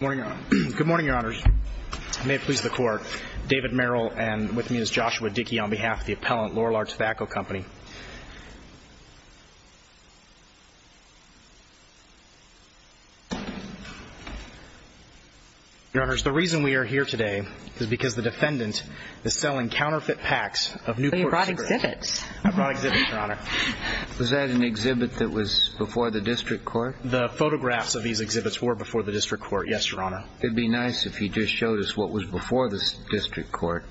Good morning, Your Honors. May it please the Court, David Merrill and with me is Joshua Dickey on behalf of the appellant Lorillard Tobacco Company. Your Honors, the reason we are here today is because the defendant is selling counterfeit packs of Newport cigarettes. So you brought exhibits? I brought exhibits, Your Honor. Was that an exhibit that was before the district court? The photographs of these exhibits were before the district court, yes, Your Honor. It would be nice if you just showed us what was before the district court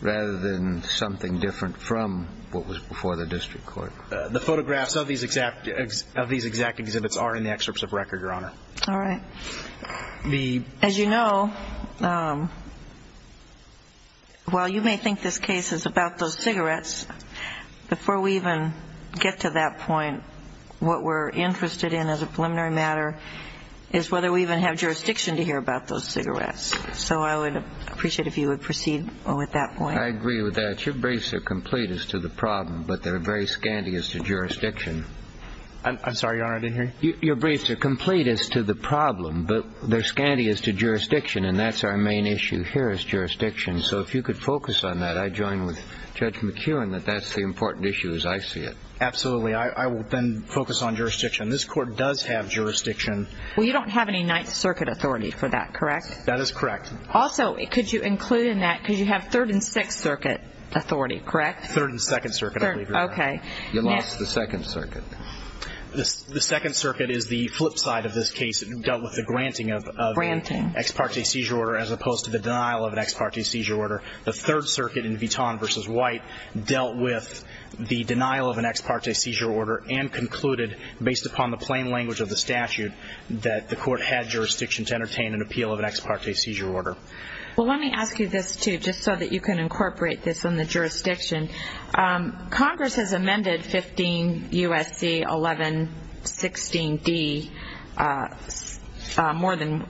rather than something different from what was before the district court. The photographs of these exact exhibits are in the excerpts of record, Your Honor. While you may think this case is about those cigarettes, before we even get to that point, what we're interested in as a preliminary matter is whether we even have jurisdiction to hear about those cigarettes. So I would appreciate it if you would proceed with that point. I agree with that. Your briefs are complete as to the problem, but they're very scanty as to jurisdiction. I'm sorry, Your Honor, to hear? Your briefs are complete as to the problem, but they're scanty as to jurisdiction, and that's our main issue here is jurisdiction. So if you could focus on that, I join with Judge McKeown that that's the important issue as I see it. Absolutely. I will then focus on jurisdiction. This court does have jurisdiction. Well, you don't have any Ninth Circuit authority for that, correct? That is correct. Also, could you include in that, because you have Third and Sixth Circuit authority, correct? Third and Second Circuit, I believe, Your Honor. You lost the Second Circuit. The Second Circuit is the flip side of this case. It dealt with the granting of an ex parte seizure order as opposed to the denial of an ex parte seizure order. The Third Circuit in Vitan v. White dealt with the denial of an ex parte seizure order and concluded, based upon the plain language of the statute, that the court had jurisdiction to entertain an appeal of an ex parte seizure order. Well, let me ask you this, too, just so that you can incorporate this in the jurisdiction. Congress has amended 15 U.S.C. 1116d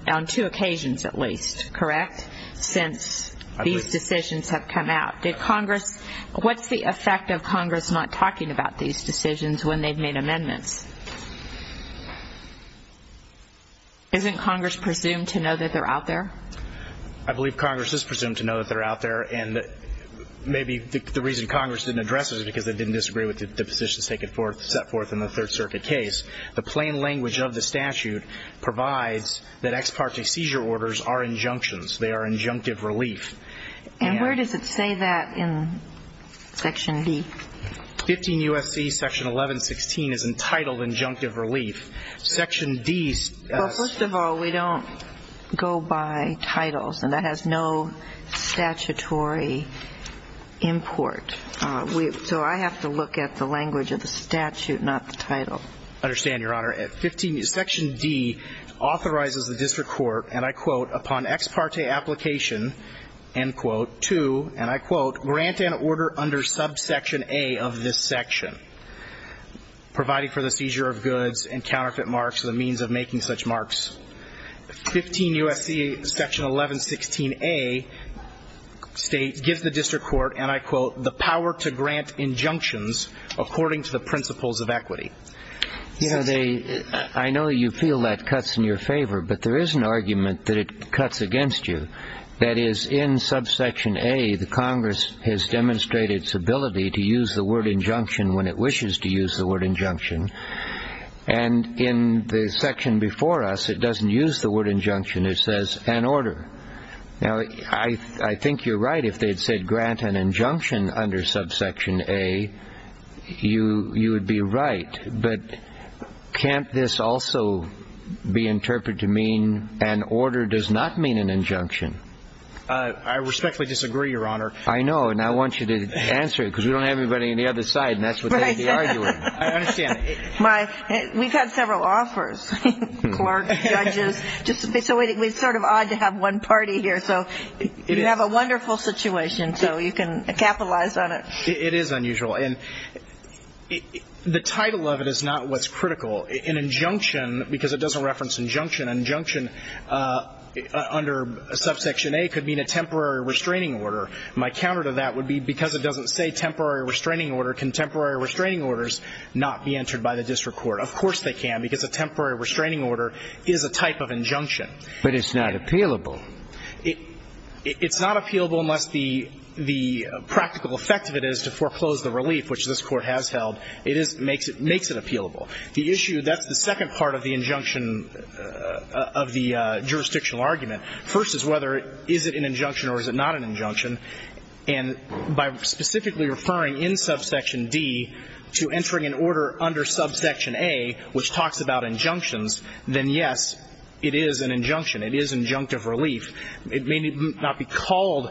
on two occasions, at least, correct, since these decisions have come out. What is the effect of Congress not talking about these decisions when they have made amendments? Isn't Congress presumed to know that they are out there? I believe Congress is presumed to know that they are out there, and maybe the reason Congress didn't address it is because they didn't disagree with the positions set forth in the Third Circuit case. The plain language of the statute provides that ex parte seizure orders are injunctions. They are injunctive relief. And where does it say that in Section D? 15 U.S.C. Section 1116 is entitled injunctive relief. Section D... Well, first of all, we don't go by titles, and that has no statutory import. So I have to look at the language of the statute, not the title. Understand, Your Honor, Section D authorizes the district court, and I quote, upon ex parte application, end quote, to, and I quote, grant an order under subsection A of this section, providing for the seizure of goods and counterfeit marks as a means of making such marks. 15 U.S.C. Section 1116a states, gives the district court, and I quote, the power to use the word injunction when it wishes to use the word injunction. And in the section before us, it doesn't use the word injunction. It says, an order. Now, I think you're right if they had said, grant an injunction under subsection A, you would be right. But in Section D, can't this also be interpreted to mean an order does not mean an injunction? I respectfully disagree, Your Honor. I know, and I want you to answer it, because we don't have anybody on the other side, and that's what they'd be arguing. I understand. We've had several offers, clerks, judges. So it's sort of odd to have one party here. So you have a wonderful situation, so you can capitalize on it. It is unusual. And the title of it is not what's critical. An injunction, because it doesn't reference injunction, an injunction under subsection A could mean a temporary restraining order. My counter to that would be, because it doesn't say temporary restraining order, can temporary restraining orders not be entered by the district court? Of course they can, because a temporary restraining order is a type of injunction. But it's not appealable. It's not appealable unless the practical effect of it is to foreclose the relief, which this Court has held. It makes it appealable. The issue, that's the second part of the injunction of the jurisdictional argument. First is whether is it an injunction or is it not an injunction. And by specifically referring in subsection D to entering an order under subsection A, which talks about injunctions, then, yes, it is an injunction. It is injunctive relief. It may not be called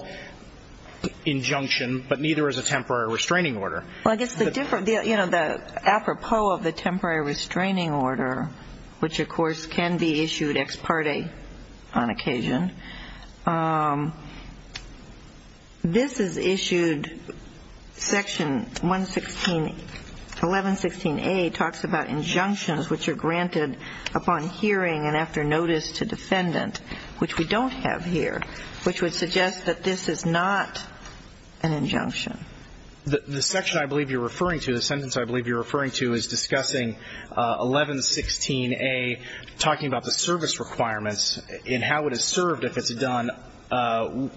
injunction, but neither is a temporary restraining order. Well, I guess the different, you know, the apropos of the temporary restraining order, which, of course, can be issued ex parte on occasion, this is issued section 1116A talks about injunctions which are granted upon hearing and after notice to the defendant, which we don't have here, which would suggest that this is not an injunction. The section I believe you're referring to, the sentence I believe you're referring to is discussing 1116A, talking about the service requirements and how it is served if it's done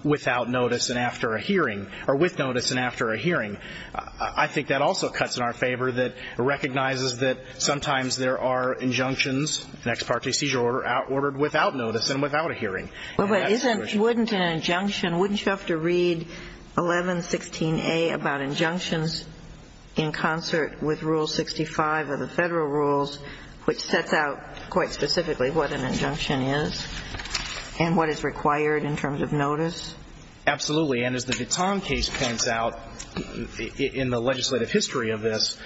without notice and after a hearing, or with notice and after a hearing. I think that also cuts in our favor, that it recognizes that sometimes there are cases that are not granted upon hearing and after notice, and without a hearing. Well, but isn't – wouldn't an injunction – wouldn't you have to read 1116A about injunctions in concert with Rule 65 of the Federal rules, which sets out quite specifically what an injunction is and what is required in terms of notice? Absolutely. And as the Vitan case points out in the legislative history of this,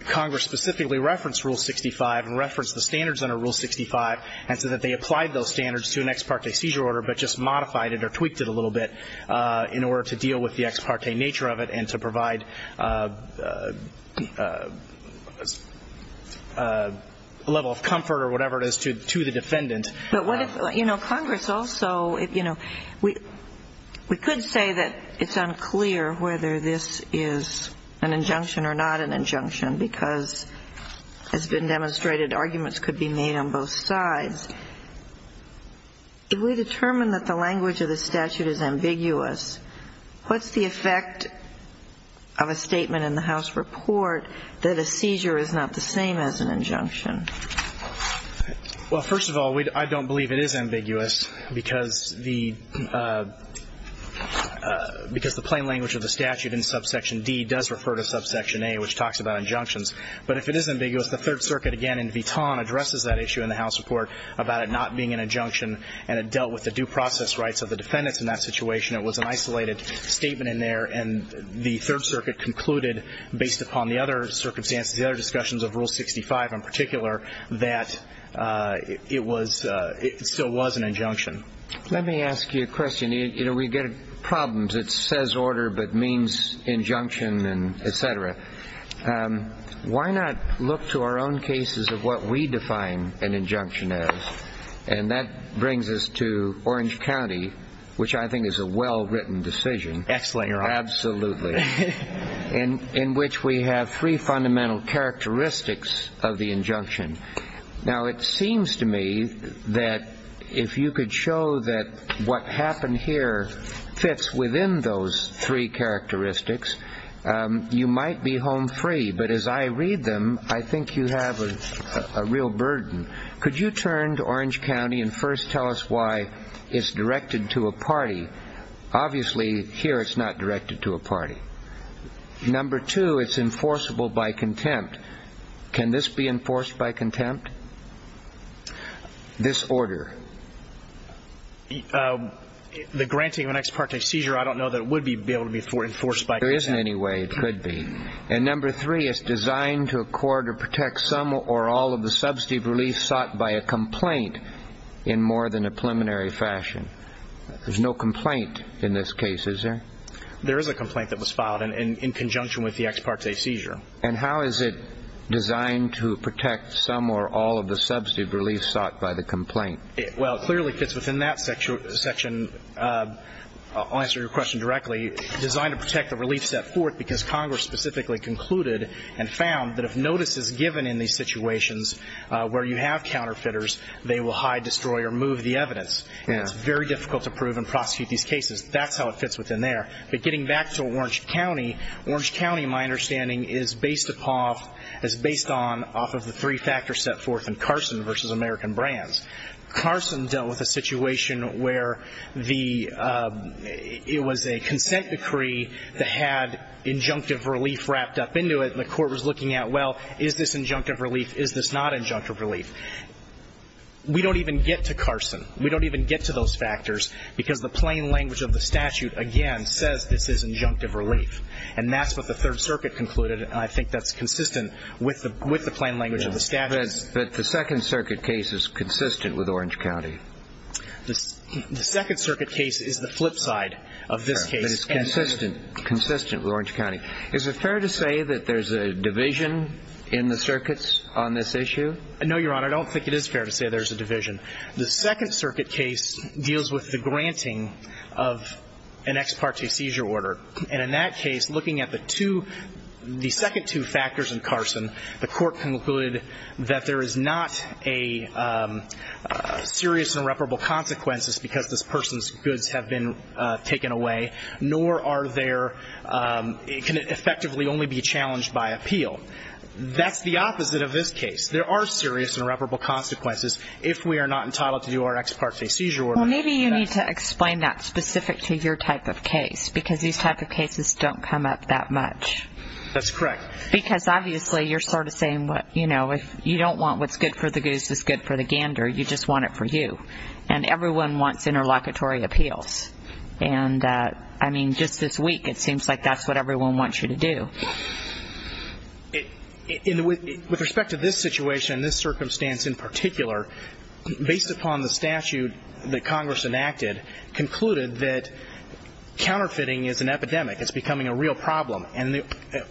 Congress specifically referenced Rule 65 and referenced the standards under Rule 65, and so that they applied those standards to an ex parte seizure order, but just modified it or tweaked it a little bit in order to deal with the ex parte nature of it and to provide a level of comfort or whatever it is to the defendant. But what if – you know, Congress also – you know, we could say that it's unclear whether this is an injunction or not an injunction, because as has been demonstrated, arguments could be made on both sides. If we determine that the language of the statute is ambiguous, what's the effect of a statement in the House report that a seizure is not the same as an injunction? Well, first of all, I don't believe it is ambiguous, because the – because the plain language of the statute in subsection D does refer to subsection A, which talks about injunctions. But if it is ambiguous, the Third Circuit again in Vitan addresses that issue in the House report about it not being an injunction, and it dealt with the due process rights of the defendants in that situation. It was an isolated statement in there, and the Third Circuit concluded, based upon the other circumstances, the other discussions of Rule 65 in particular, that it was – it still was an injunction. Let me ask you a question. You know, we get problems. It says order but means injunction and et cetera. Why not look to our own cases of what we define an injunction as? And that brings us to Orange County, which I think is a well-written decision. Excellent, Your Honor. Absolutely. In which we have three fundamental characteristics of the injunction. Now, it seems to me that if you could show that what happened here fits within those three characteristics, you might be home free. But as I read them, I think you have a real burden. Could you turn to Orange County and first tell us why it's directed to a party? Obviously, here it's not directed to a party. Number two, it's enforceable by contempt. Can this be enforced by contempt? This order. The granting of an ex parte seizure, I don't know that it would be able to be enforced by contempt. There isn't any way it could be. And number three, it's designed to accord or protect some or all of the subsidy relief sought by a complaint in more than a preliminary fashion. There's no complaint in this case, is there? There is a complaint that was filed in conjunction with the ex parte seizure. And how is it designed to protect some or all of the subsidy relief sought by the complaint? Well, it clearly fits within that section. I'll answer your question directly. It's designed to protect the relief set forth because Congress specifically concluded and found that if notice is given in these situations where you have counterfeiters, they will hide, destroy, or move the evidence. It's very difficult to prove and prosecute these cases. That's how it fits within there. But getting back to Orange County, Orange County, my understanding, is based off of the three factors set forth in Carson v. American Brands. Carson dealt with a situation where it was a consent decree that had injunctive relief wrapped up into it, and the court was looking at, well, is this injunctive relief, is this not injunctive relief? We don't even get to Carson. We don't even get to those factors because the plain language of the statute, again, says this is injunctive relief. And that's what the Third Circuit concluded, and I think that's consistent with the plain language of the statute. But the Second Circuit case is consistent with Orange County. The Second Circuit case is the flip side of this case. But it's consistent with Orange County. Is it fair to say that there's a division in the circuits on this issue? No, Your Honor, I don't think it is fair to say there's a division. The Second Circuit case deals with the granting of an ex parte seizure order. And in that case, looking at the two, the second two factors in Carson, the court concluded that there is not a serious irreparable consequences because this person's goods have been taken away, nor are there, it can effectively only be challenged by appeal. That's the opposite of this case. There are serious irreparable consequences if we are not entitled to do our ex parte seizure order. Well, maybe you need to explain that specific to your type of case because these type of cases don't come up that much. That's correct. Because obviously you're sort of saying, you know, if you don't want what's good for the goose is good for the gander, you just want it for you. And everyone wants interlocutory appeals. And, I mean, just this week it seems like that's what everyone wants you to do. With respect to this situation, this circumstance in particular, based upon the statute that Congress enacted, concluded that counterfeiting is an epidemic. It's becoming a real problem. And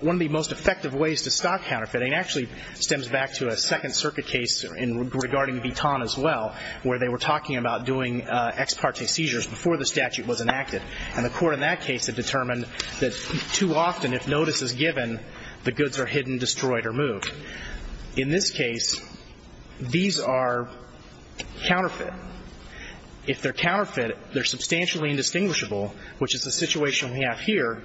one of the most effective ways to stop counterfeiting actually stems back to a Second Circuit case regarding Vuitton as well, where they were talking about doing ex parte seizures before the statute was enacted. And the court in that case had determined that too often if notice is given, the goods are hidden, destroyed, or moved. In this case, these are counterfeit. If they're counterfeit, they're substantially indistinguishable, which is the situation we have here.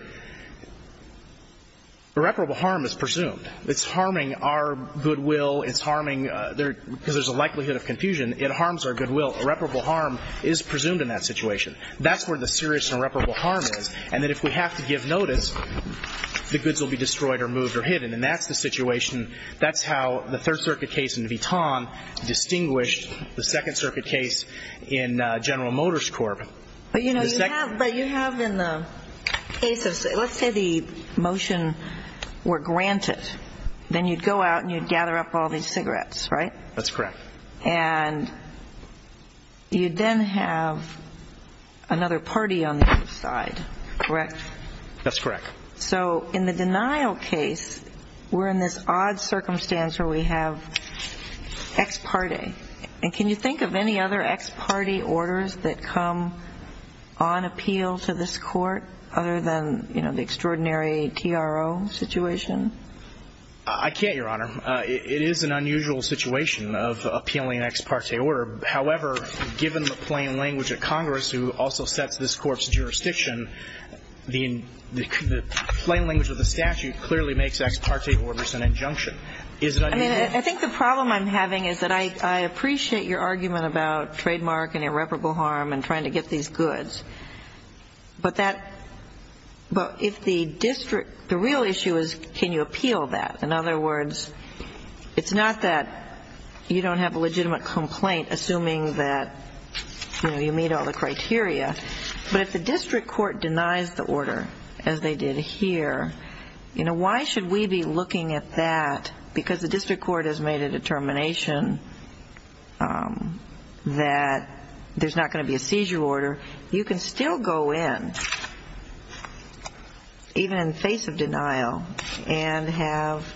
Irreparable harm is presumed. It's harming our goodwill. It's harming, because there's a likelihood of confusion, it harms our goodwill. Irreparable harm is presumed in that situation. That's where the serious and irreparable harm is, and that if we have to give notice, the goods will be destroyed or moved or hidden. And that's the situation, that's how the Third Circuit case in Vuitton distinguished the Second Circuit case in General Motors Corp. But, you know, you have, but you have in the case of, let's say the motion were granted. Then you'd go out and you'd gather up all these cigarettes, right? That's correct. And you'd then have another party on the other side, correct? That's correct. So in the denial case, we're in this odd circumstance where we have ex parte. And can you think of any other ex parte orders that come on appeal to this court other than, you know, the extraordinary TRO situation? I can't, Your Honor. It is an unusual situation of appealing an ex parte order. However, given the plain language of Congress, who also sets this court's jurisdiction, the plain language of the statute clearly makes ex parte orders an injunction. Is it unusual? I mean, I think the problem I'm having is that I appreciate your argument about trademark and irreparable harm and trying to get these goods. But that, if the district, the real issue is can you appeal that? In other words, it's not that you don't have a legitimate complaint, assuming that, you know, you meet all the criteria. But if the district court denies the order, as they did here, you know, why should we be looking at that? Because the district court has made a determination that there's not going to be a seizure order. You can still go in, even in the face of denial, and have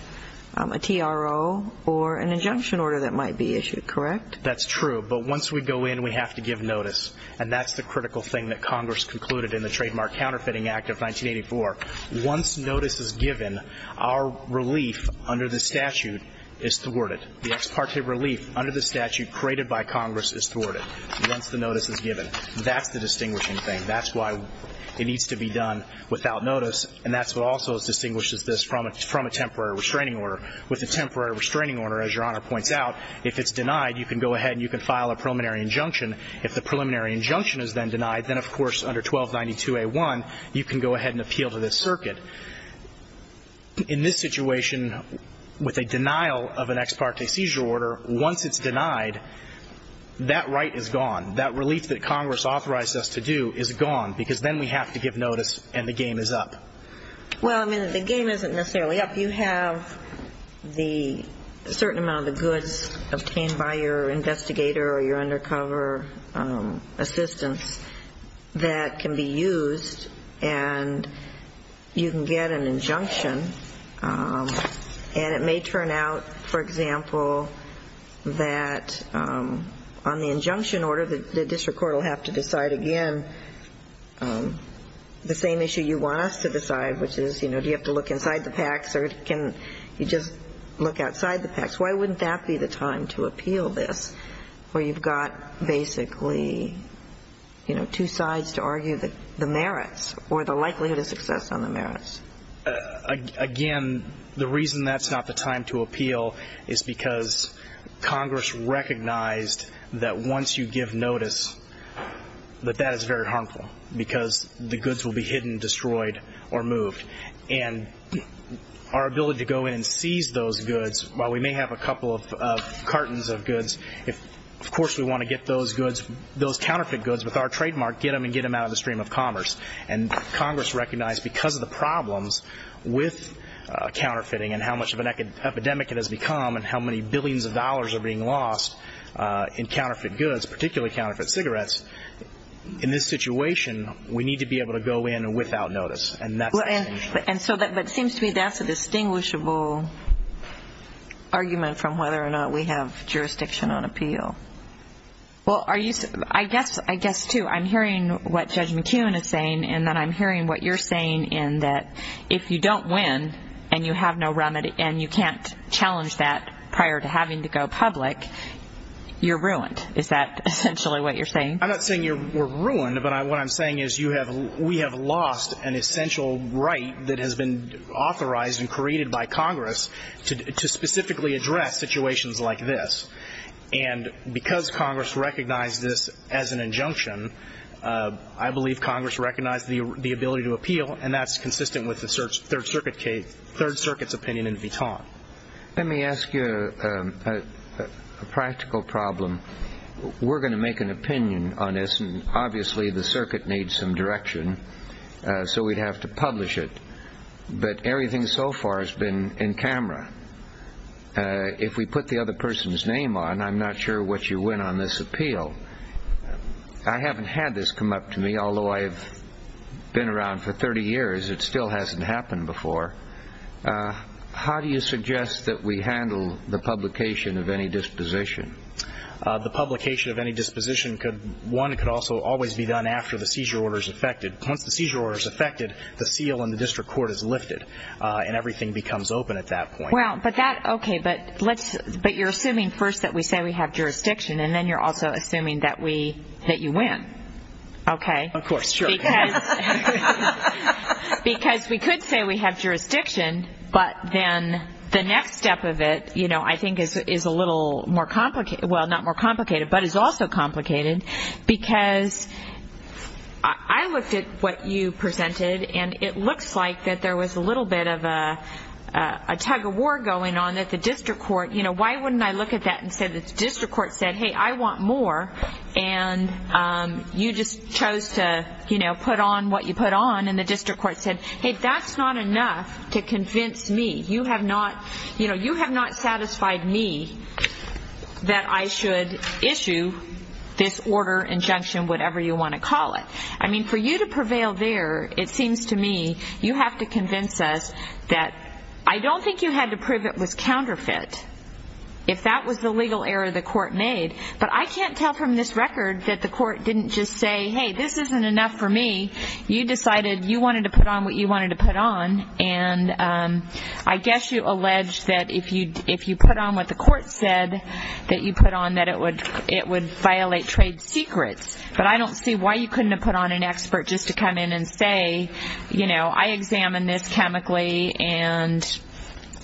a TRO or an injunction order that might be issued, correct? That's true. But once we go in, we have to give notice. And that's the critical thing that Congress concluded in the Trademark Counterfeiting Act of 1984. Once notice is given, our relief under the statute is thwarted. The ex parte relief under the statute created by Congress is thwarted once the notice is given. That's the distinguishing thing. That's why it needs to be done without notice. And that's what also distinguishes this from a temporary restraining order. With a temporary restraining order, as Your Honor points out, if it's denied, you can go ahead and you can file a preliminary injunction. If the preliminary injunction is then denied, then, of course, under 1292A1, you can go ahead and appeal to this circuit. In this situation, with a denial of an ex parte seizure order, once it's denied, that right is gone. That relief that Congress authorized us to do is gone because then we have to give notice and the game is up. Well, I mean, the game isn't necessarily up. You have the certain amount of the goods obtained by your investigator or your undercover assistance that can be used, and you can get an injunction. And it may turn out, for example, that on the injunction order, the district court will have to decide again the same issue you want us to decide, which is, you know, do you have to look inside the packs or can you just look outside the packs? Why wouldn't that be the time to appeal this where you've got basically, you know, two sides to argue the merits or the likelihood of success on the merits? Again, the reason that's not the time to appeal is because Congress recognized that once you give notice, that that is very harmful because the goods will be hidden, destroyed, or moved. And our ability to go in and seize those goods, while we may have a couple of cartons of goods, of course we want to get those goods, those counterfeit goods with our trademark, get them and get them out of the stream of commerce. And Congress recognized because of the problems with counterfeiting and how much of an epidemic it has become and how many billions of dollars are being lost in counterfeit goods, particularly counterfeit cigarettes, in this situation, we need to be able to go in without notice. And that's the situation. But it seems to me that's a distinguishable argument from whether or not we have jurisdiction on appeal. Well, I guess, too, I'm hearing what Judge McKeown is saying and then I'm hearing what you're saying in that if you don't win and you have no remedy and you can't challenge that prior to having to go public, you're ruined. Is that essentially what you're saying? I'm not saying you're ruined, but what I'm saying is we have lost an essential right that has been authorized and created by Congress to specifically address situations like this. And because Congress recognized this as an injunction, I believe Congress recognized the ability to appeal, and that's consistent with the Third Circuit's opinion in Vuitton. Let me ask you a practical problem. We're going to make an opinion on this, and obviously the circuit needs some direction, so we'd have to publish it. But everything so far has been in camera. If we put the other person's name on, I'm not sure what you win on this appeal. I haven't had this come up to me, although I've been around for 30 years. It still hasn't happened before. How do you suggest that we handle the publication of any disposition? The publication of any disposition, one, could also always be done after the seizure order is effected. Once the seizure order is effected, the seal in the district court is lifted and everything becomes open at that point. Okay, but you're assuming first that we say we have jurisdiction, and then you're also assuming that you win, okay? Of course, sure. Because we could say we have jurisdiction, but then the next step of it I think is a little more complicated. Well, not more complicated, but is also complicated, because I looked at what you presented, and it looks like that there was a little bit of a tug-of-war going on at the district court. Why wouldn't I look at that and say the district court said, hey, I want more, and you just chose to put on what you put on, and the district court said, hey, that's not enough to convince me. You have not satisfied me that I should issue this order, injunction, whatever you want to call it. I mean, for you to prevail there, it seems to me you have to convince us that I don't think you had to prove it was counterfeit if that was the legal error the court made, but I can't tell from this record that the court didn't just say, hey, this isn't enough for me. You decided you wanted to put on what you wanted to put on, and I guess you alleged that if you put on what the court said that you put on that it would violate trade secrets, but I don't see why you couldn't have put on an expert just to come in and say, you know, I examined this chemically, and,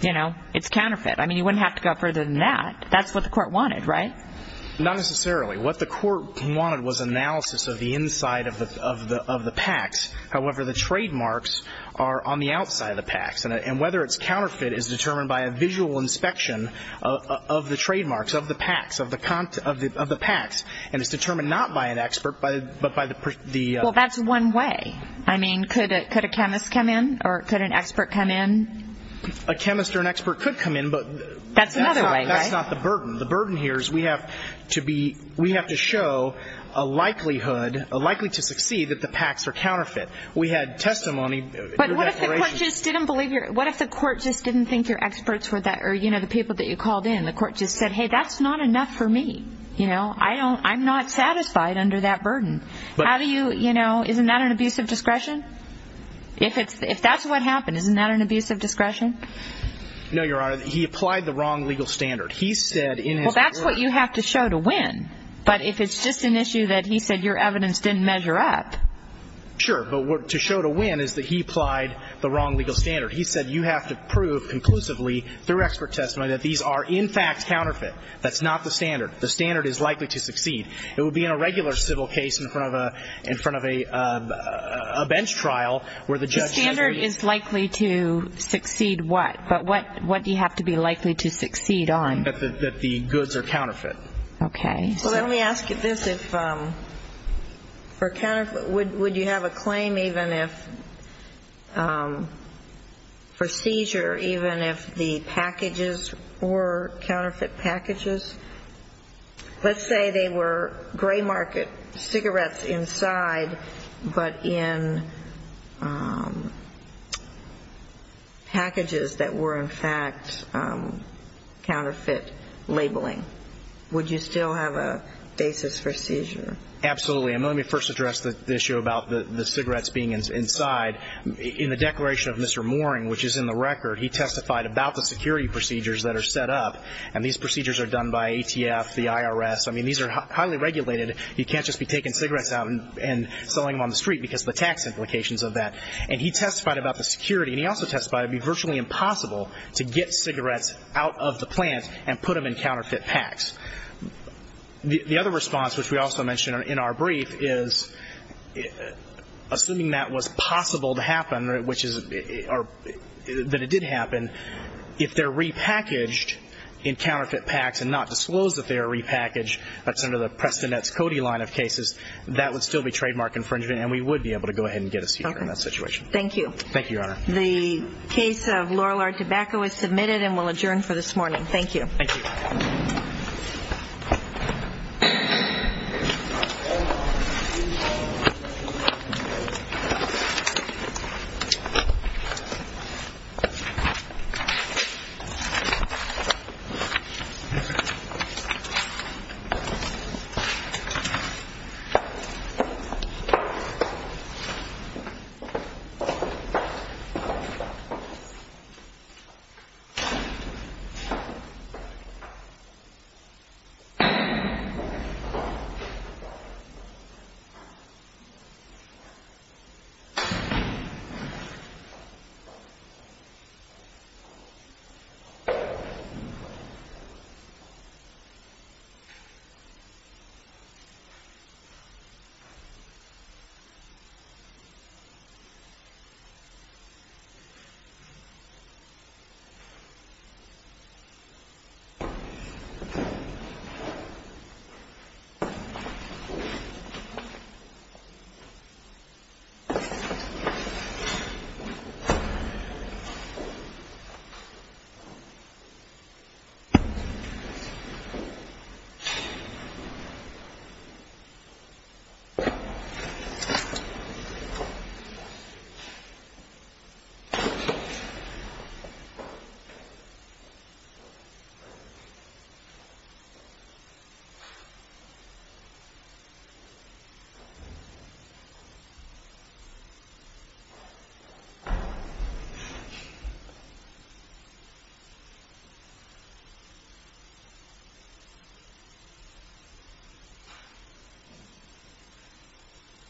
you know, it's counterfeit. I mean, you wouldn't have to go further than that. That's what the court wanted, right? Not necessarily. What the court wanted was analysis of the inside of the PACS. However, the trademarks are on the outside of the PACS, and whether it's counterfeit is determined by a visual inspection of the trademarks of the PACS, and it's determined not by an expert but by the... Well, that's one way. I mean, could a chemist come in or could an expert come in? A chemist or an expert could come in, but... That's another way, right? That's not the burden. The burden here is we have to show a likelihood, likely to succeed, that the PACS are counterfeit. We had testimony... But what if the court just didn't believe your... What if the court just didn't think your experts were that, or, you know, the people that you called in, the court just said, hey, that's not enough for me. You know, I'm not satisfied under that burden. How do you, you know, isn't that an abuse of discretion? If that's what happened, isn't that an abuse of discretion? No, Your Honor. He applied the wrong legal standard. He said in his report... Well, that's what you have to show to win. But if it's just an issue that he said your evidence didn't measure up... Sure, but to show to win is that he applied the wrong legal standard. He said you have to prove conclusively through expert testimony that these are in fact counterfeit. That's not the standard. The standard is likely to succeed. It would be in a regular civil case in front of a bench trial where the judge... The standard is likely to succeed what? But what do you have to be likely to succeed on? That the goods are counterfeit. Okay. Well, let me ask you this. Would you have a claim even if, for seizure, even if the packages were counterfeit packages? Let's say they were gray market cigarettes inside but in packages that were in fact counterfeit labeling. Would you still have a basis for seizure? Absolutely. And let me first address the issue about the cigarettes being inside. In the declaration of Mr. Mooring, which is in the record, he testified about the security procedures that are set up. And these procedures are done by ATF, the IRS. I mean, these are highly regulated. You can't just be taking cigarettes out and selling them on the street because of the tax implications of that. And he testified about the security. And he also testified it would be virtually impossible to get cigarettes out of the plant and put them in counterfeit packs. The other response, which we also mentioned in our brief, is assuming that was possible to happen, which is that it did happen, if they're repackaged in counterfeit packs and not disclosed that they are repackaged, that's under the Preston Nets Cody line of cases, that would still be trademark infringement, and we would be able to go ahead and get a seizure in that situation. Thank you. Thank you, Your Honor. The case of Lorillard Tobacco is submitted and will adjourn for this morning. Thank you. Thank you. Thank you.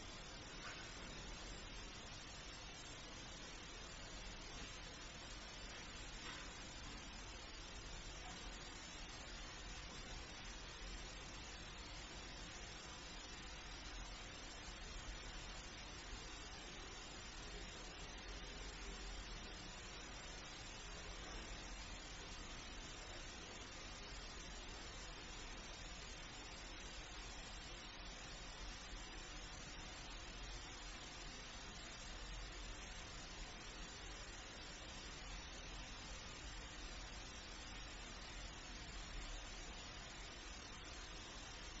Thank you. Thank you. Thank you. Thank you. Thank you. Thank you.